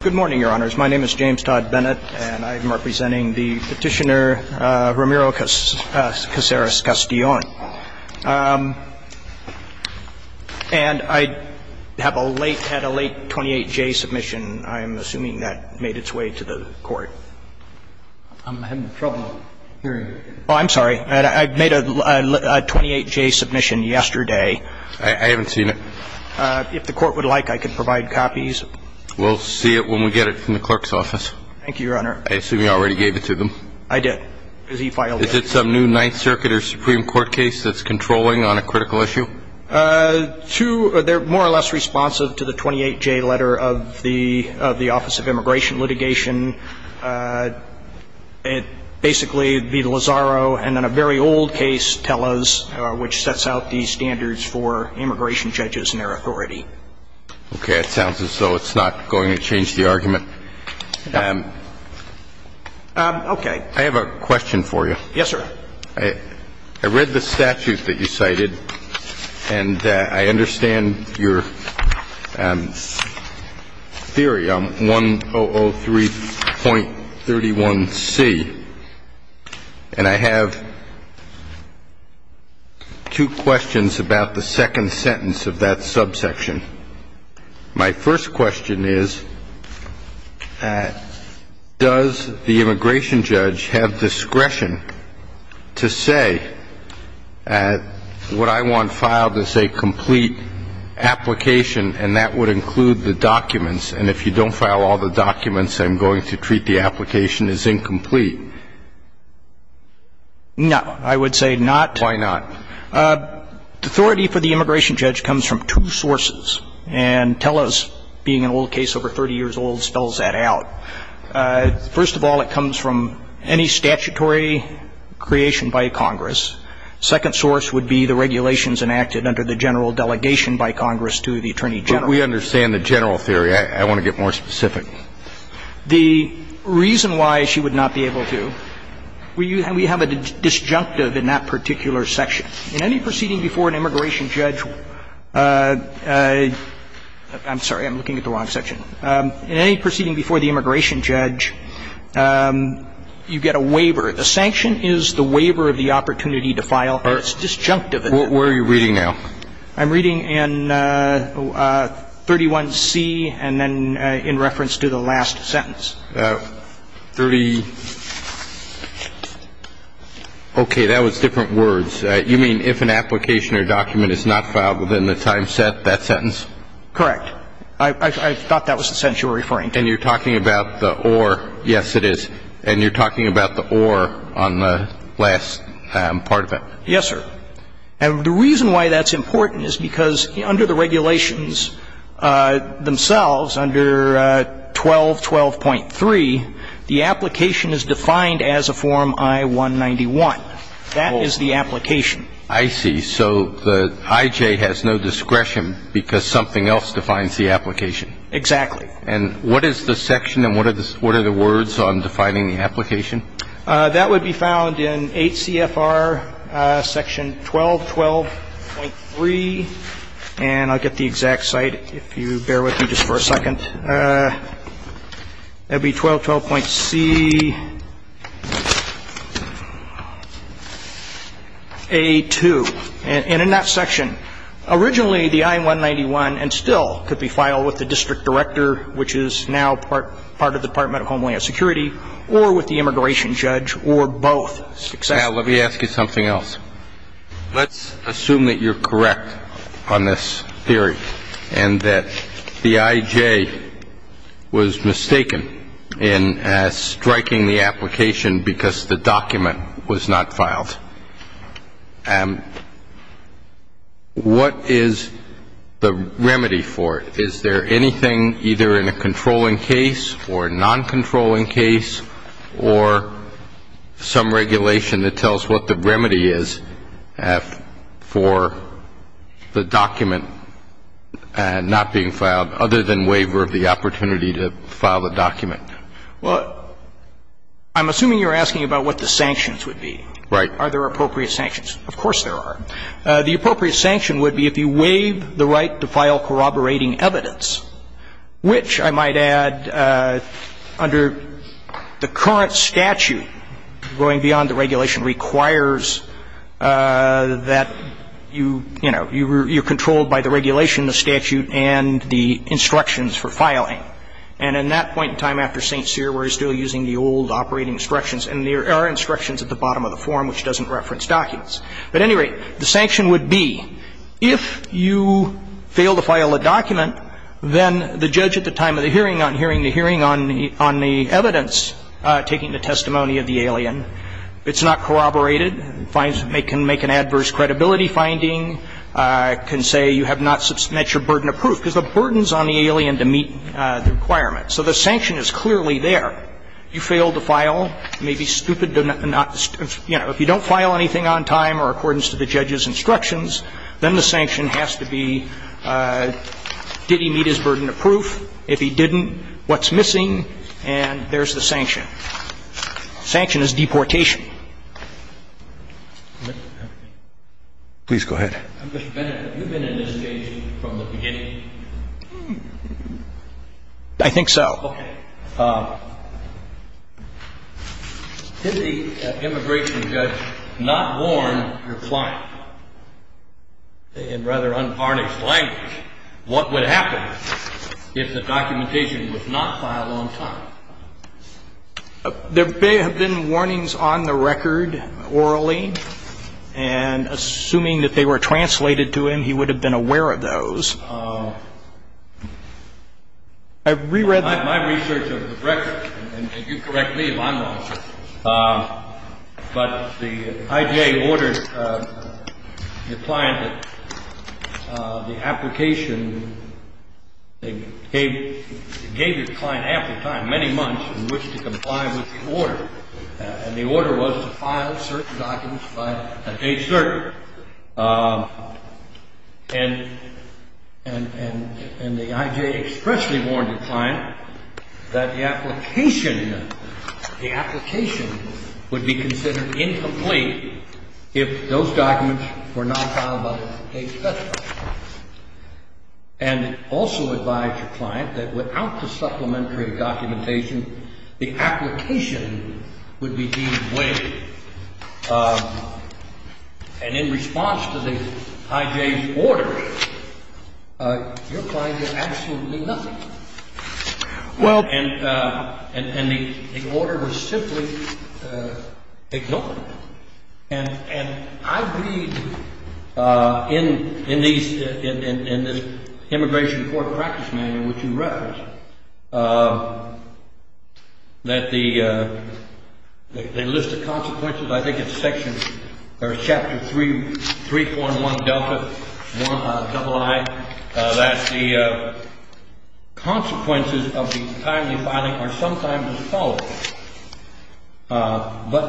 Good morning, Your Honors. My name is James Todd Bennett, and I am representing the Petitioner, Ramiro Casares-Castellon. And I have a late, had a late 28-J submission. I am assuming that made its way to the Court. I'm having trouble hearing you. Oh, I'm sorry. I made a 28-J submission yesterday. I haven't seen it. If the Court would like, I can provide copies. We'll see it when we get it from the Clerk's Office. Thank you, Your Honor. I assume you already gave it to them. I did, because he filed it. Is it some new Ninth Circuit or Supreme Court case that's controlling on a critical issue? Two, they're more or less responsive to the 28-J letter of the Office of Immigration Litigation. It basically, the Lazaro and then a very old case, Tellez, which sets out the standards for immigration judges and their authority. Okay. It sounds as though it's not going to change the argument. Okay. I have a question for you. Yes, sir. I read the statute that you cited, and I understand your theory on 1003.31c. And I have two questions about that. The first question is, does the immigration judge have discretion to say, what I want filed is a complete application, and that would include the documents. And if you don't file all the documents, I'm going to treat the application as incomplete. No, I would say not. Why not? Authority for the immigration judge comes from two sources. And Tellez, being an old case over 30 years old, spells that out. First of all, it comes from any statutory creation by Congress. Second source would be the regulations enacted under the general delegation by Congress to the Attorney General. But we understand the general theory. I want to get more specific. The reason why she would not be able to, we have a disjunctive in that particular section. In any proceeding before an immigration judge — I'm sorry, I'm looking at the wrong section. In any proceeding before the immigration judge, you get a waiver. A sanction is the waiver of the opportunity to file, and it's disjunctive. Where are you reading now? I'm reading in 31C, and then in reference to the last sentence. Thirty — okay. That was different words. You mean if an application or document is not filed within the time set, that sentence? Correct. I thought that was the sentence you were referring to. And you're talking about the or. Yes, it is. And you're talking about the or on the last part of it. Yes, sir. And the reason why that's important is because under the regulations themselves, under 1212.3, the application is defined as a form I-191. That is the application. I see. So the IJ has no discretion because something else defines the application. Exactly. And what is the section and what are the words on defining the application? That would be found in 8 CFR section 1212.3, and I'll get the exact site if you bear with me just for a second. That would be 1212.CA2. And in that section, originally the I-191 and still could be filed with the district director, which is now part of the Department of Homeland Security, or with the immigration judge, or both. Now, let me ask you something else. Let's assume that you're correct on this theory and that the IJ was mistaken in striking the application because the document was not filed. What is the remedy for it? Is there anything either in a controlling case or a non-controlling case or some regulation that tells what the remedy is for the document not being filed, other than waiver of the opportunity to file the document? Well, I'm assuming you're asking about what the sanctions would be. Right. Are there appropriate sanctions? Of course there are. The appropriate sanction would be if you waive the right to file corroborating evidence, which I might add to that, under the current statute, going beyond the regulation, requires that you, you know, you're controlled by the regulation, the statute, and the instructions for filing. And in that point in time after St. Cyr, we're still using the old operating instructions, and there are instructions at the bottom of the form which doesn't reference documents. At any rate, the sanction would be if you fail to file a document, then the judge at the time of the hearing on hearing the hearing on the evidence taking the testimony of the alien, if it's not corroborated, can make an adverse credibility finding, can say you have not met your burden of proof, because the burden is on the alien to meet the requirement. So the sanction is clearly there. You fail to file, it may be stupid to not to, you know, if you don't file anything on time or according to the judge's instructions, then the sanction has to be did he meet his burden of proof? If he didn't, what's missing? And there's the sanction. Sanction is deportation. Please go ahead. Mr. Bennett, have you been in this case from the beginning? I think so. Okay. Did the immigration judge not warn your client? In rather unharnessed language, what would happen if the documentation was not filed on time? There may have been warnings on the record orally, and assuming that they were translated to him, he would have been aware of those. I reread the My research of the record, and you correct me if I'm wrong, but the IGA ordered the client that the application, they gave the client ample time, many months, in which to comply with the order. And the order was to file certain documents by a date certain. And the IGA expressly warned the client that the application, the application would be And it also advised the client that without the supplementary documentation, the application would be deemed wasted. And in response to the IGA's order, your client did absolutely nothing. Well And the order was simply ignored. And I read in these, in this immigration court practice manual, which you referenced, that the list of consequences, I think it's section, or But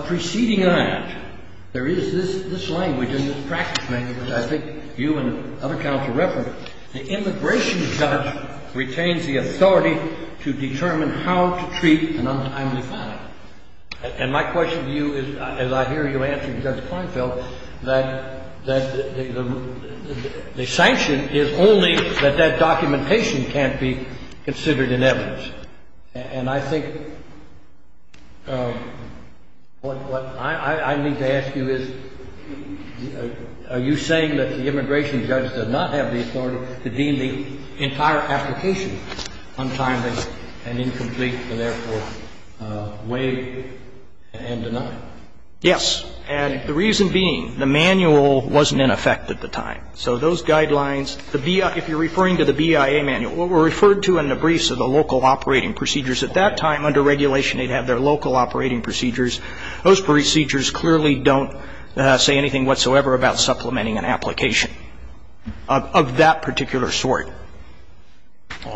preceding that, there is this language in this practice manual that I think you and other counsel referenced, the immigration judge retains the authority to determine how to treat an untimely filing. And my question to you is, as I hear you answering Judge Kleinfeld, that the sanction is only that that documentation can't be considered in evidence. And I think what I need to ask you is, are you saying that the immigration judge does not have the authority to deem the entire application untimely and incomplete and therefore waive and deny? Yes. And the reason being, the manual wasn't in effect at the time. So those guidelines, referring to the BIA manual, what were referred to in the briefs are the local operating procedures. At that time, under regulation, they'd have their local operating procedures. Those procedures clearly don't say anything whatsoever about supplementing an application of that particular sort.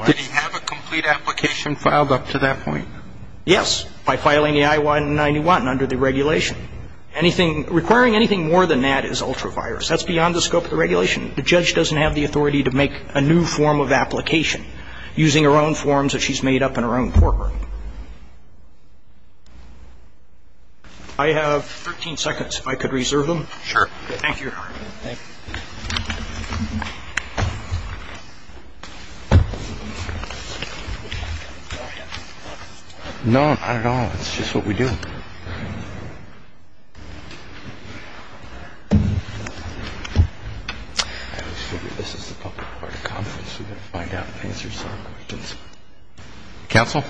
Did he have a complete application filed up to that point? Yes. By filing the I-191 under the regulation. Anything, requiring anything more than that beyond the scope of the regulation. The judge doesn't have the authority to make a new form of application using her own forms that she's made up in her own courtroom. I have 13 seconds if I could reserve them. Sure. Thank you, Your Honor. Thank you. No, not at all. It's just what we do. Counsel?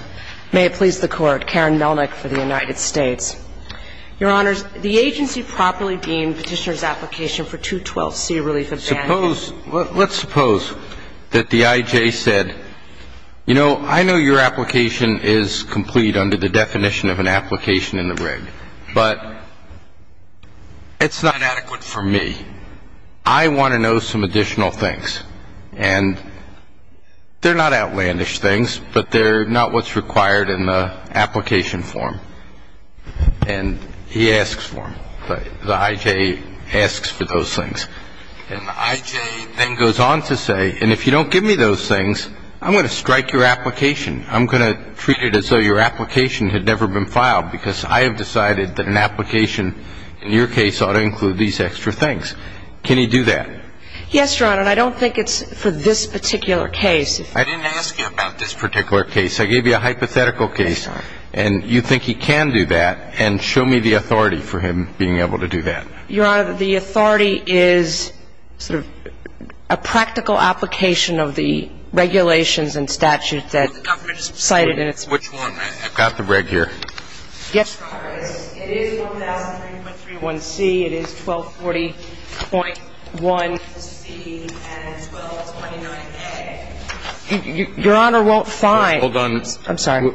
May it please the Court. Karen Melnick for the United States. Your Honors, the agency properly deemed Petitioner's application for 212C relief of Let's suppose that the IJ said, you know, I know your application is complete under the definition of an application in the reg, but it's not adequate for me. I want to know some additional things. And they're not outlandish things, but they're not what's required in the application form. And he asks for them. The IJ asks for those things. And the IJ then goes on to say, and if you don't give me those things, I'm going to strike your application. I'm going to treat it as though your application had never been filed because I have decided that an application in your case ought to include these extra things. Can he do that? Yes, Your Honor. And I don't think it's for this particular case. I didn't ask you about this particular case. I gave you a hypothetical case, and you think he can do that. And show me the authority for him being able to do that. Your Honor, the authority is sort of a practical application of the regulations and statutes that the government has cited. Which one? I've got the reg here. Yes, Your Honor. It is 1331C. It is 1240.1C and 1229A. Your Honor won't find – Hold on. I'm sorry.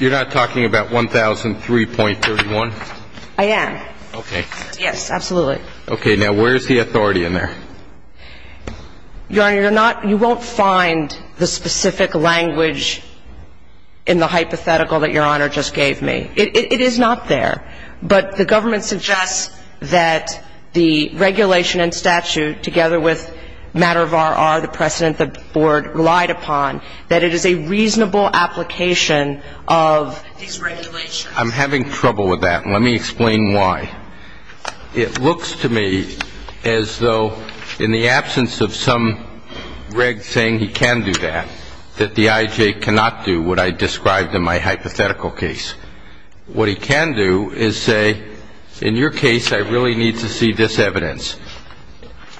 You're not talking about 1003.31? I am. Okay. Yes, absolutely. Okay. Now, where is the authority in there? Your Honor, you're not – you won't find the specific language in the hypothetical that Your Honor just gave me. It is not there. But the government suggests that the regulation and statute, together with matter of R.R., the precedent the Board relied upon, that it is a reasonable application of these regulations. I'm having trouble with that. Let me explain why. It looks to me as though in the absence of some reg saying he can do that, that the IJ cannot do what I described in my hypothetical case. What he can do is say, in your case, I really need to see this evidence,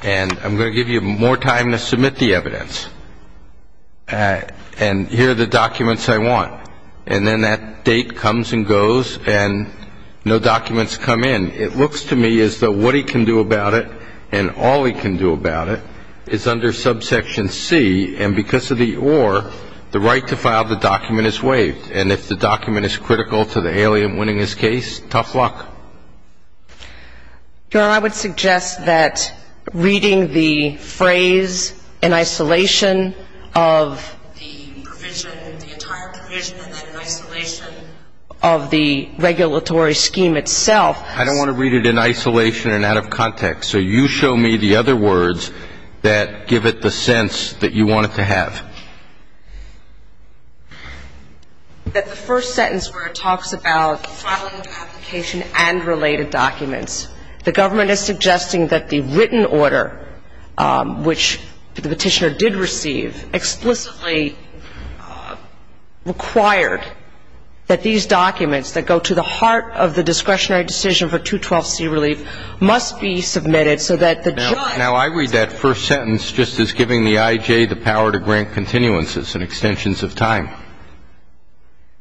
and I'm going to give you more time to submit the evidence, and here are the documents I want. And then that date comes and goes, and no documents come in. It looks to me as though what he can do about it, and all he can do about it, is under subsection C, and because of the or, the right to file the document is waived. And if the document is critical to the alien winning his case, tough luck. Your Honor, I would suggest that reading the phrase in isolation of the provision, the entire provision, and then in isolation of the regulatory scheme itself. I don't want to read it in isolation and out of context. So you show me the other words that give it the sense that you want it to have. That the first sentence where it talks about filing of application and related documents, the government is suggesting that the written order, which the Petitioner did receive, explicitly required that these documents that go to the heart of the discretionary decision for 212C relief must be submitted so that the judge. Now, I read that first sentence just as giving the IJ the power to grant continuances and extensions of time.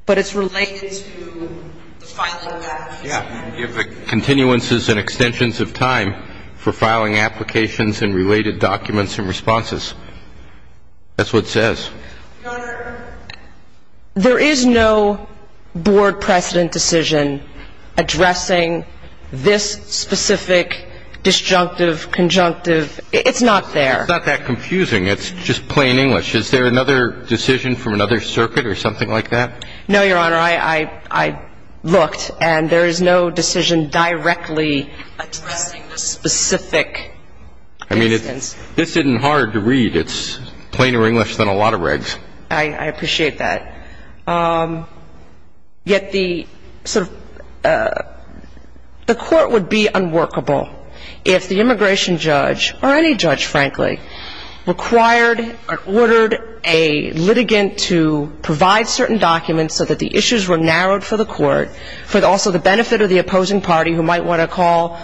But it's related to the final path. Yeah. Continuances and extensions of time for filing applications and related documents and responses. That's what it says. Your Honor, there is no board precedent decision addressing this specific disjunctive, conjunctive. It's not there. It's not that confusing. It's just plain English. Is there another decision from another circuit or something like that? No, Your Honor. I looked, and there is no decision directly addressing the specific instance. I mean, this isn't hard to read. It's plainer English than a lot of regs. I appreciate that. Yet the sort of the court would be unworkable if the immigration judge or any judge, frankly, required or ordered a litigant to provide certain documents so that the issues were narrowed for the court, for also the benefit of the opposing party who might want to call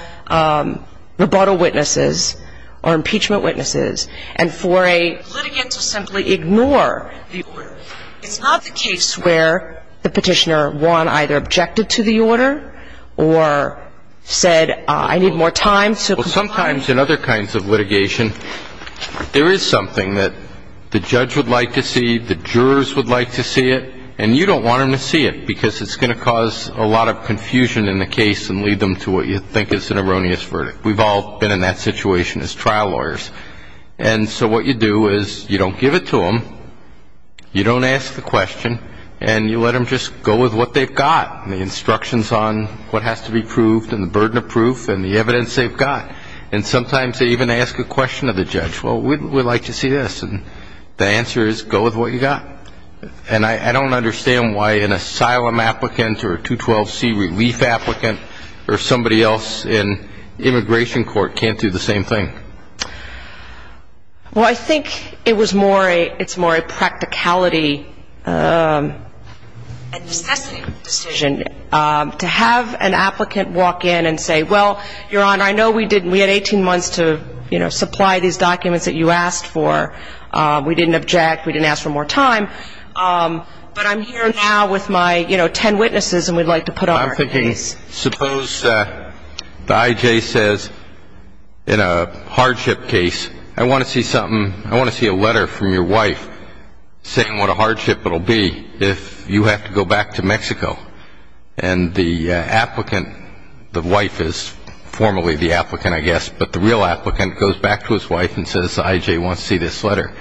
rebuttal witnesses or impeachment witnesses, and for a litigant to simply ignore the order. It's not the case where the petitioner won, either objected to the order or said, I need more time to comply. Well, sometimes in other kinds of litigation, there is something that the judge would like to see, the jurors would like to see it, and you don't want them to see it because it's going to cause a lot of confusion in the case and lead them to what you think is an erroneous verdict. We've all been in that situation as trial lawyers. And so what you do is you don't give it to them, you don't ask the question, and you let them just go with what they've got, the instructions on what has to be proved and the burden of proof and the evidence they've got. And sometimes they even ask a question of the judge. Well, we'd like to see this. And the answer is go with what you've got. And I don't understand why an asylum applicant or a 212C relief applicant or somebody else in immigration court can't do the same thing. Well, I think it's more a practicality and necessity decision to have an applicant walk in and say, well, Your Honor, I know we had 18 months to supply these documents that you asked for. We didn't object. We didn't ask for more time. But I'm here now with my ten witnesses, and we'd like to put on our case. Suppose the I.J. says in a hardship case, I want to see something, I want to see a letter from your wife saying what a hardship it will be if you have to go back to Mexico. And the applicant, the wife is formally the applicant, I guess, but the real applicant goes back to his wife and says the I.J. wants to see this letter.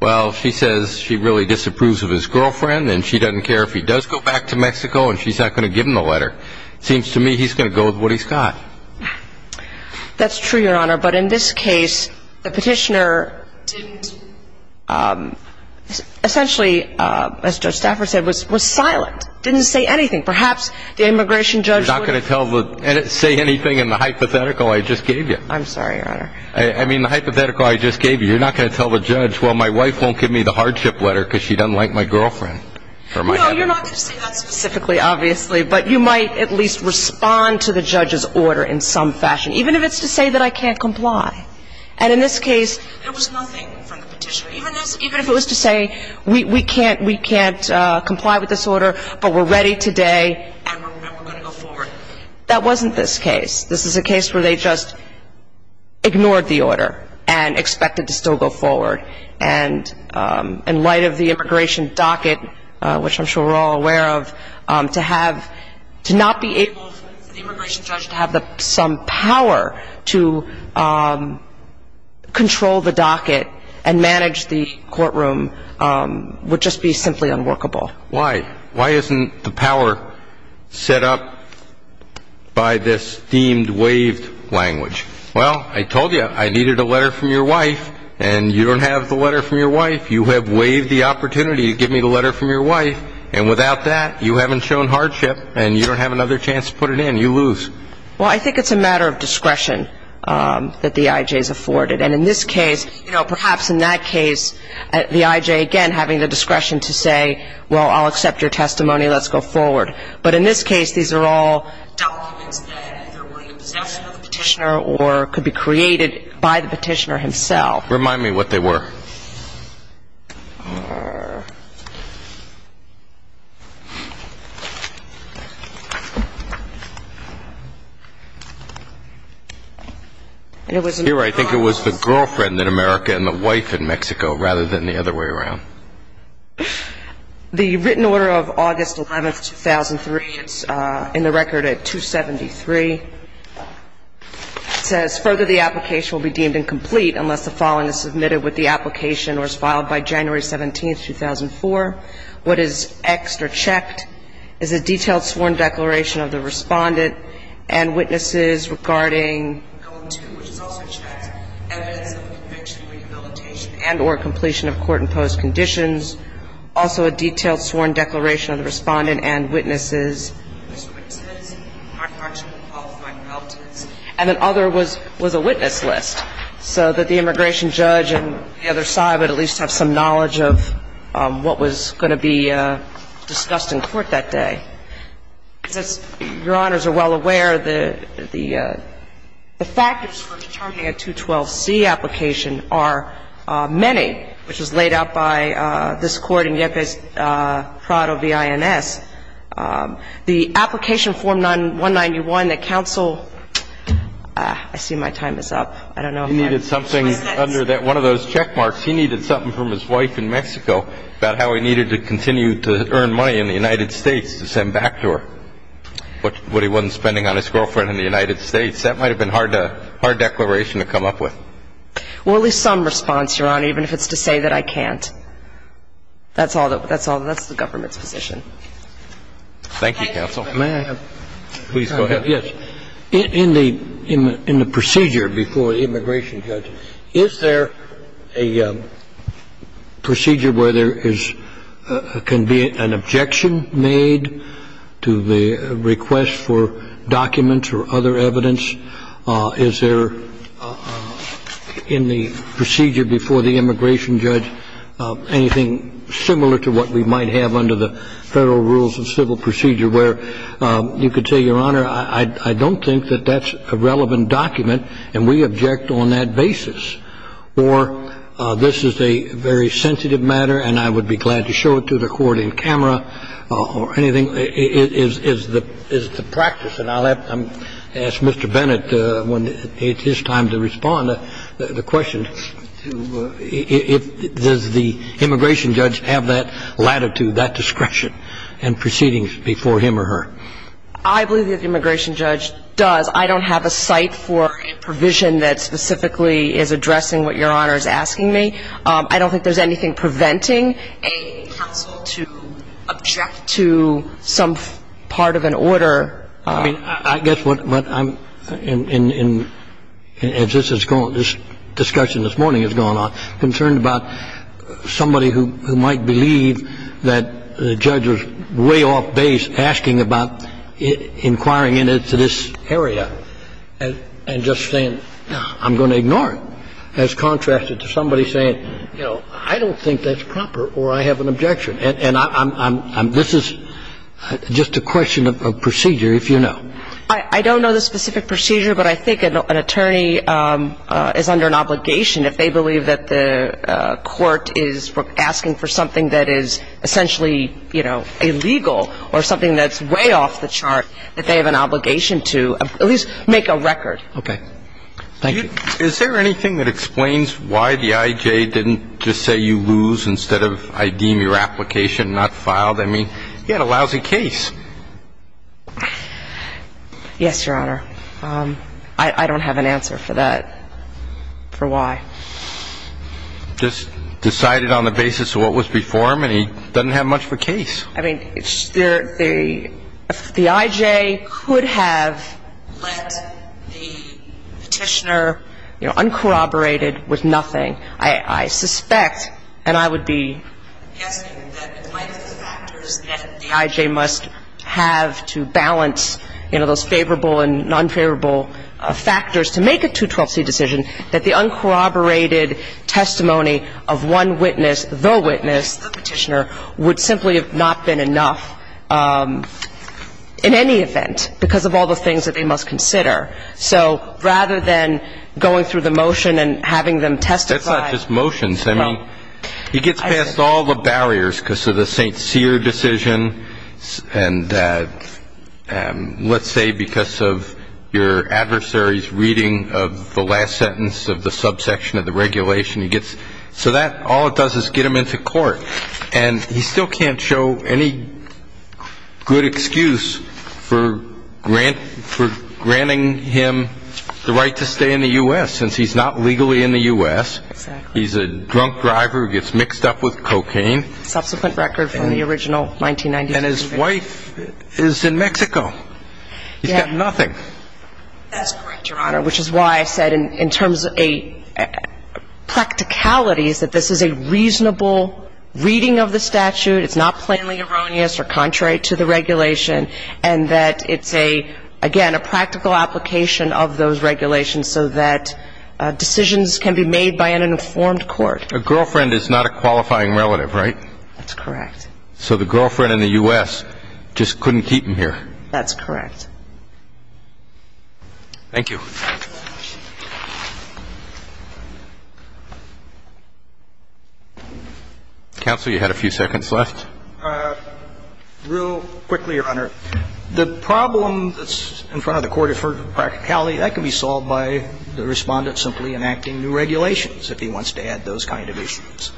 Well, she says she really disapproves of his girlfriend, and she doesn't care if he does go back to Mexico and she's not going to give him the letter. It seems to me he's going to go with what he's got. That's true, Your Honor. But in this case, the petitioner didn't, essentially, as Judge Stafford said, was silent, didn't say anything. Perhaps the immigration judge would have. You're not going to say anything in the hypothetical I just gave you? I'm sorry, Your Honor. I mean, the hypothetical I just gave you, you're not going to tell the judge, well, my wife won't give me the hardship letter because she doesn't like my girlfriend? No, you're not going to say that specifically, obviously, but you might at least respond to the judge's order in some fashion, even if it's to say that I can't comply. And in this case, there was nothing from the petitioner, even if it was to say we can't comply with this order, but we're ready today and we're going to go forward. That wasn't this case. This is a case where they just ignored the order and expected to still go forward. And in light of the immigration docket, which I'm sure we're all aware of, to not be able for the immigration judge to have some power to control the docket and manage the courtroom would just be simply unworkable. Why? Why isn't the power set up by this deemed waived language? Well, I told you I needed a letter from your wife, and you don't have the letter from your wife. You have waived the opportunity to give me the letter from your wife, and without that you haven't shown hardship and you don't have another chance to put it in. You lose. Well, I think it's a matter of discretion that the I.J. is afforded. And in this case, perhaps in that case, the I.J., again, having the discretion to say, well, I'll accept your testimony, let's go forward. But in this case, these are all documents that either were in the possession of the petitioner or could be created by the petitioner himself. Remind me what they were. Here, I think it was the girlfriend in America and the wife in Mexico rather than the other way around. The written order of August 11th, 2003, it's in the record at 273. It says, further, the application will be deemed incomplete unless the following is submitted with the application What is Xed or checked is a detailed sworn declaration of the Respondent and witnesses regarding which is also checked, evidence of a conviction, rehabilitation, and or completion of court-imposed conditions. Also a detailed sworn declaration of the Respondent and witnesses. And then other was a witness list so that the immigration judge and the other side would at least have some knowledge of what was going to be discussed in court that day. As Your Honors are well aware, the factors for determining a 212C application are many, which was laid out by this court in Yepes-Prado v. INS. The application form 191 that counsel – I see my time is up. I don't know if I'm – He needed something under one of those check marks. He needed something from his wife in Mexico about how he needed to continue to earn money in the United States to send back to her what he wasn't spending on his girlfriend in the United States. That might have been a hard declaration to come up with. Well, at least some response, Your Honor, even if it's to say that I can't. That's the government's position. Thank you, counsel. May I have – Please, go ahead. Yes. In the procedure before the immigration judge, is there a procedure where there can be an objection made to the request for documents or other evidence? Is there in the procedure before the immigration judge anything similar to what we might have under the Federal Rules of Civil Procedure where you could say, Your Honor, I don't think that that's a relevant document and we object on that basis, or this is a very sensitive matter and I would be glad to show it to the court in camera or anything? Is the practice – and I'll ask Mr. Bennett when it's his time to respond to the question – does the immigration judge have that latitude, that discretion in proceedings before him or her? I believe that the immigration judge does. I don't have a site for a provision that specifically is addressing what Your Honor is asking me. I don't think there's anything preventing a counsel to object to some part of an order. I mean, I guess what I'm – as this discussion this morning has gone on, concerned about somebody who might believe that the judge was way off base asking about inquiring into this area and just saying, I'm going to ignore it, as contrasted to somebody saying, you know, I don't think that's proper or I have an objection. And I'm – this is just a question of procedure, if you know. I don't know the specific procedure, but I think an attorney is under an obligation if they believe that the court is asking for something that is essentially, you know, illegal or something that's way off the chart that they have an obligation to at least make a record. Okay. Thank you. Is there anything that explains why the I.J. didn't just say you lose instead of I deem your application not filed? I mean, he had a lousy case. Yes, Your Honor. I don't have an answer for that, for why. Just decided on the basis of what was before him and he doesn't have much of a case. I mean, the I.J. could have let the Petitioner, you know, uncorroborated with nothing. I suspect, and I would be guessing, that in light of the factors that the I.J. must have to balance, you know, those favorable and nonfavorable factors to make a 212c decision, that the uncorroborated testimony of one witness, the witness, the Petitioner, would simply have not been enough in any event because of all the things that they must consider. So rather than going through the motion and having them testify ñ That's not just motions. I mean, he gets past all the barriers because of the St. Cyr decision and let's say because of your adversary's reading of the last sentence of the subsection of the regulation. So that, all it does is get him into court. And he still can't show any good excuse for granting him the right to stay in the U.S. since he's not legally in the U.S. Exactly. He's a drunk driver who gets mixed up with cocaine. Subsequent record from the original 1990s. And his wife is in Mexico. He's got nothing. That's correct, Your Honor, which is why I said in terms of a practicality is that this is a reasonable reading of the statute. It's not plainly erroneous or contrary to the regulation. And that it's a, again, a practical application of those regulations so that decisions can be made by an informed court. A girlfriend is not a qualifying relative, right? That's correct. So the girlfriend in the U.S. just couldn't keep him here. That's correct. Thank you. Counsel, you had a few seconds left. Real quickly, Your Honor. The problem that's in front of the court for practicality, that can be solved by the Respondent simply enacting new regulations if he wants to add those kind of issues.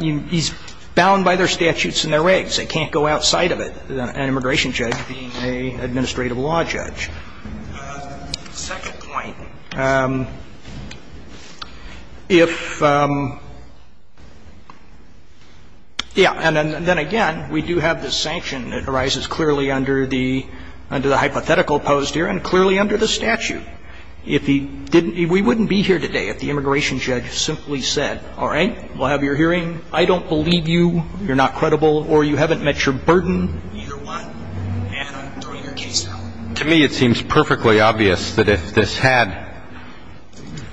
He's bound by their statutes and their regs. They can't go outside of it. An immigration judge being an administrative law judge. The second point, if, yeah, and then again, we do have this sanction that arises clearly under the hypothetical posed here and clearly under the statute. If he didn't, we wouldn't be here today if the immigration judge simply said, all right, we'll have your hearing. I don't believe you. You're not credible or you haven't met your burden. To me, it seems perfectly obvious that if this had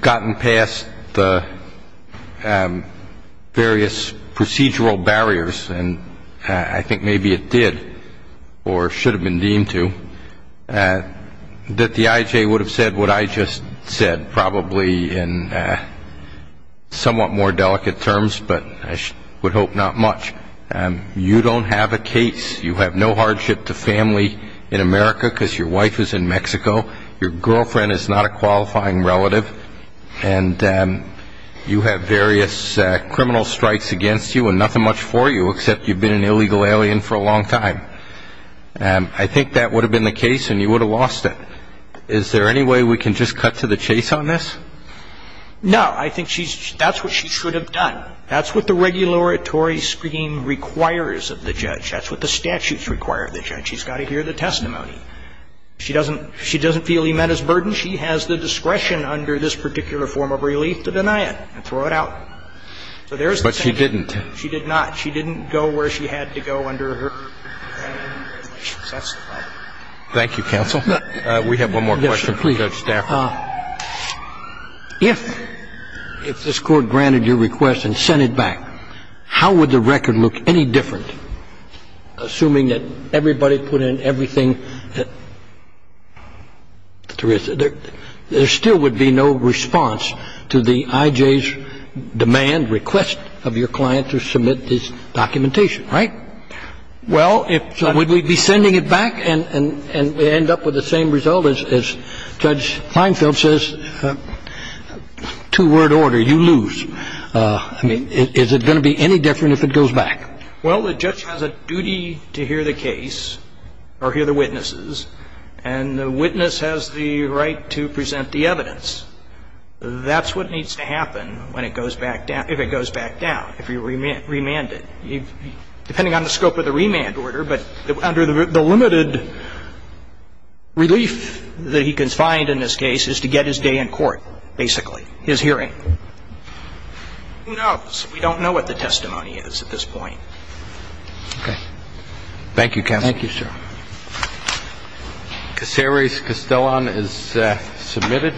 gotten past the various procedural barriers, and I think maybe it did or should have been deemed to, that the IJ would have said what I just said probably in somewhat more delicate terms, but I would hope not much. You don't have a case. You have no hardship to family in America because your wife is in Mexico. Your girlfriend is not a qualifying relative. And you have various criminal strikes against you and nothing much for you except you've been an illegal alien for a long time. I think that would have been the case and you would have lost it. Is there any way we can just cut to the chase on this? No. I think that's what she should have done. That's what the regulatory scheme requires of the judge. That's what the statutes require of the judge. She's got to hear the testimony. She doesn't feel he met his burden. She has the discretion under this particular form of relief to deny it and throw it out. So there's the thing. But she didn't. She did not. She didn't go where she had to go under her family immigration. That's the problem. Thank you, counsel. We have one more question. Judge Stafford. If this Court granted your request and sent it back, how would the record look any different, assuming that everybody put in everything that there is? There still would be no response to the IJ's demand, request of your client to submit this documentation, right? Well, if we'd be sending it back and end up with the same result as Judge Feinstein felt says, two-word order, you lose. I mean, is it going to be any different if it goes back? Well, the judge has a duty to hear the case or hear the witnesses, and the witness has the right to present the evidence. That's what needs to happen when it goes back down, if it goes back down, if you remand it. Depending on the scope of the remand order, but under the limited relief that he can find in this case is to get his day in court, basically, his hearing. Who knows? We don't know what the testimony is at this point. Okay. Thank you, counsel. Thank you, sir. Cassarys Castellon is submitted.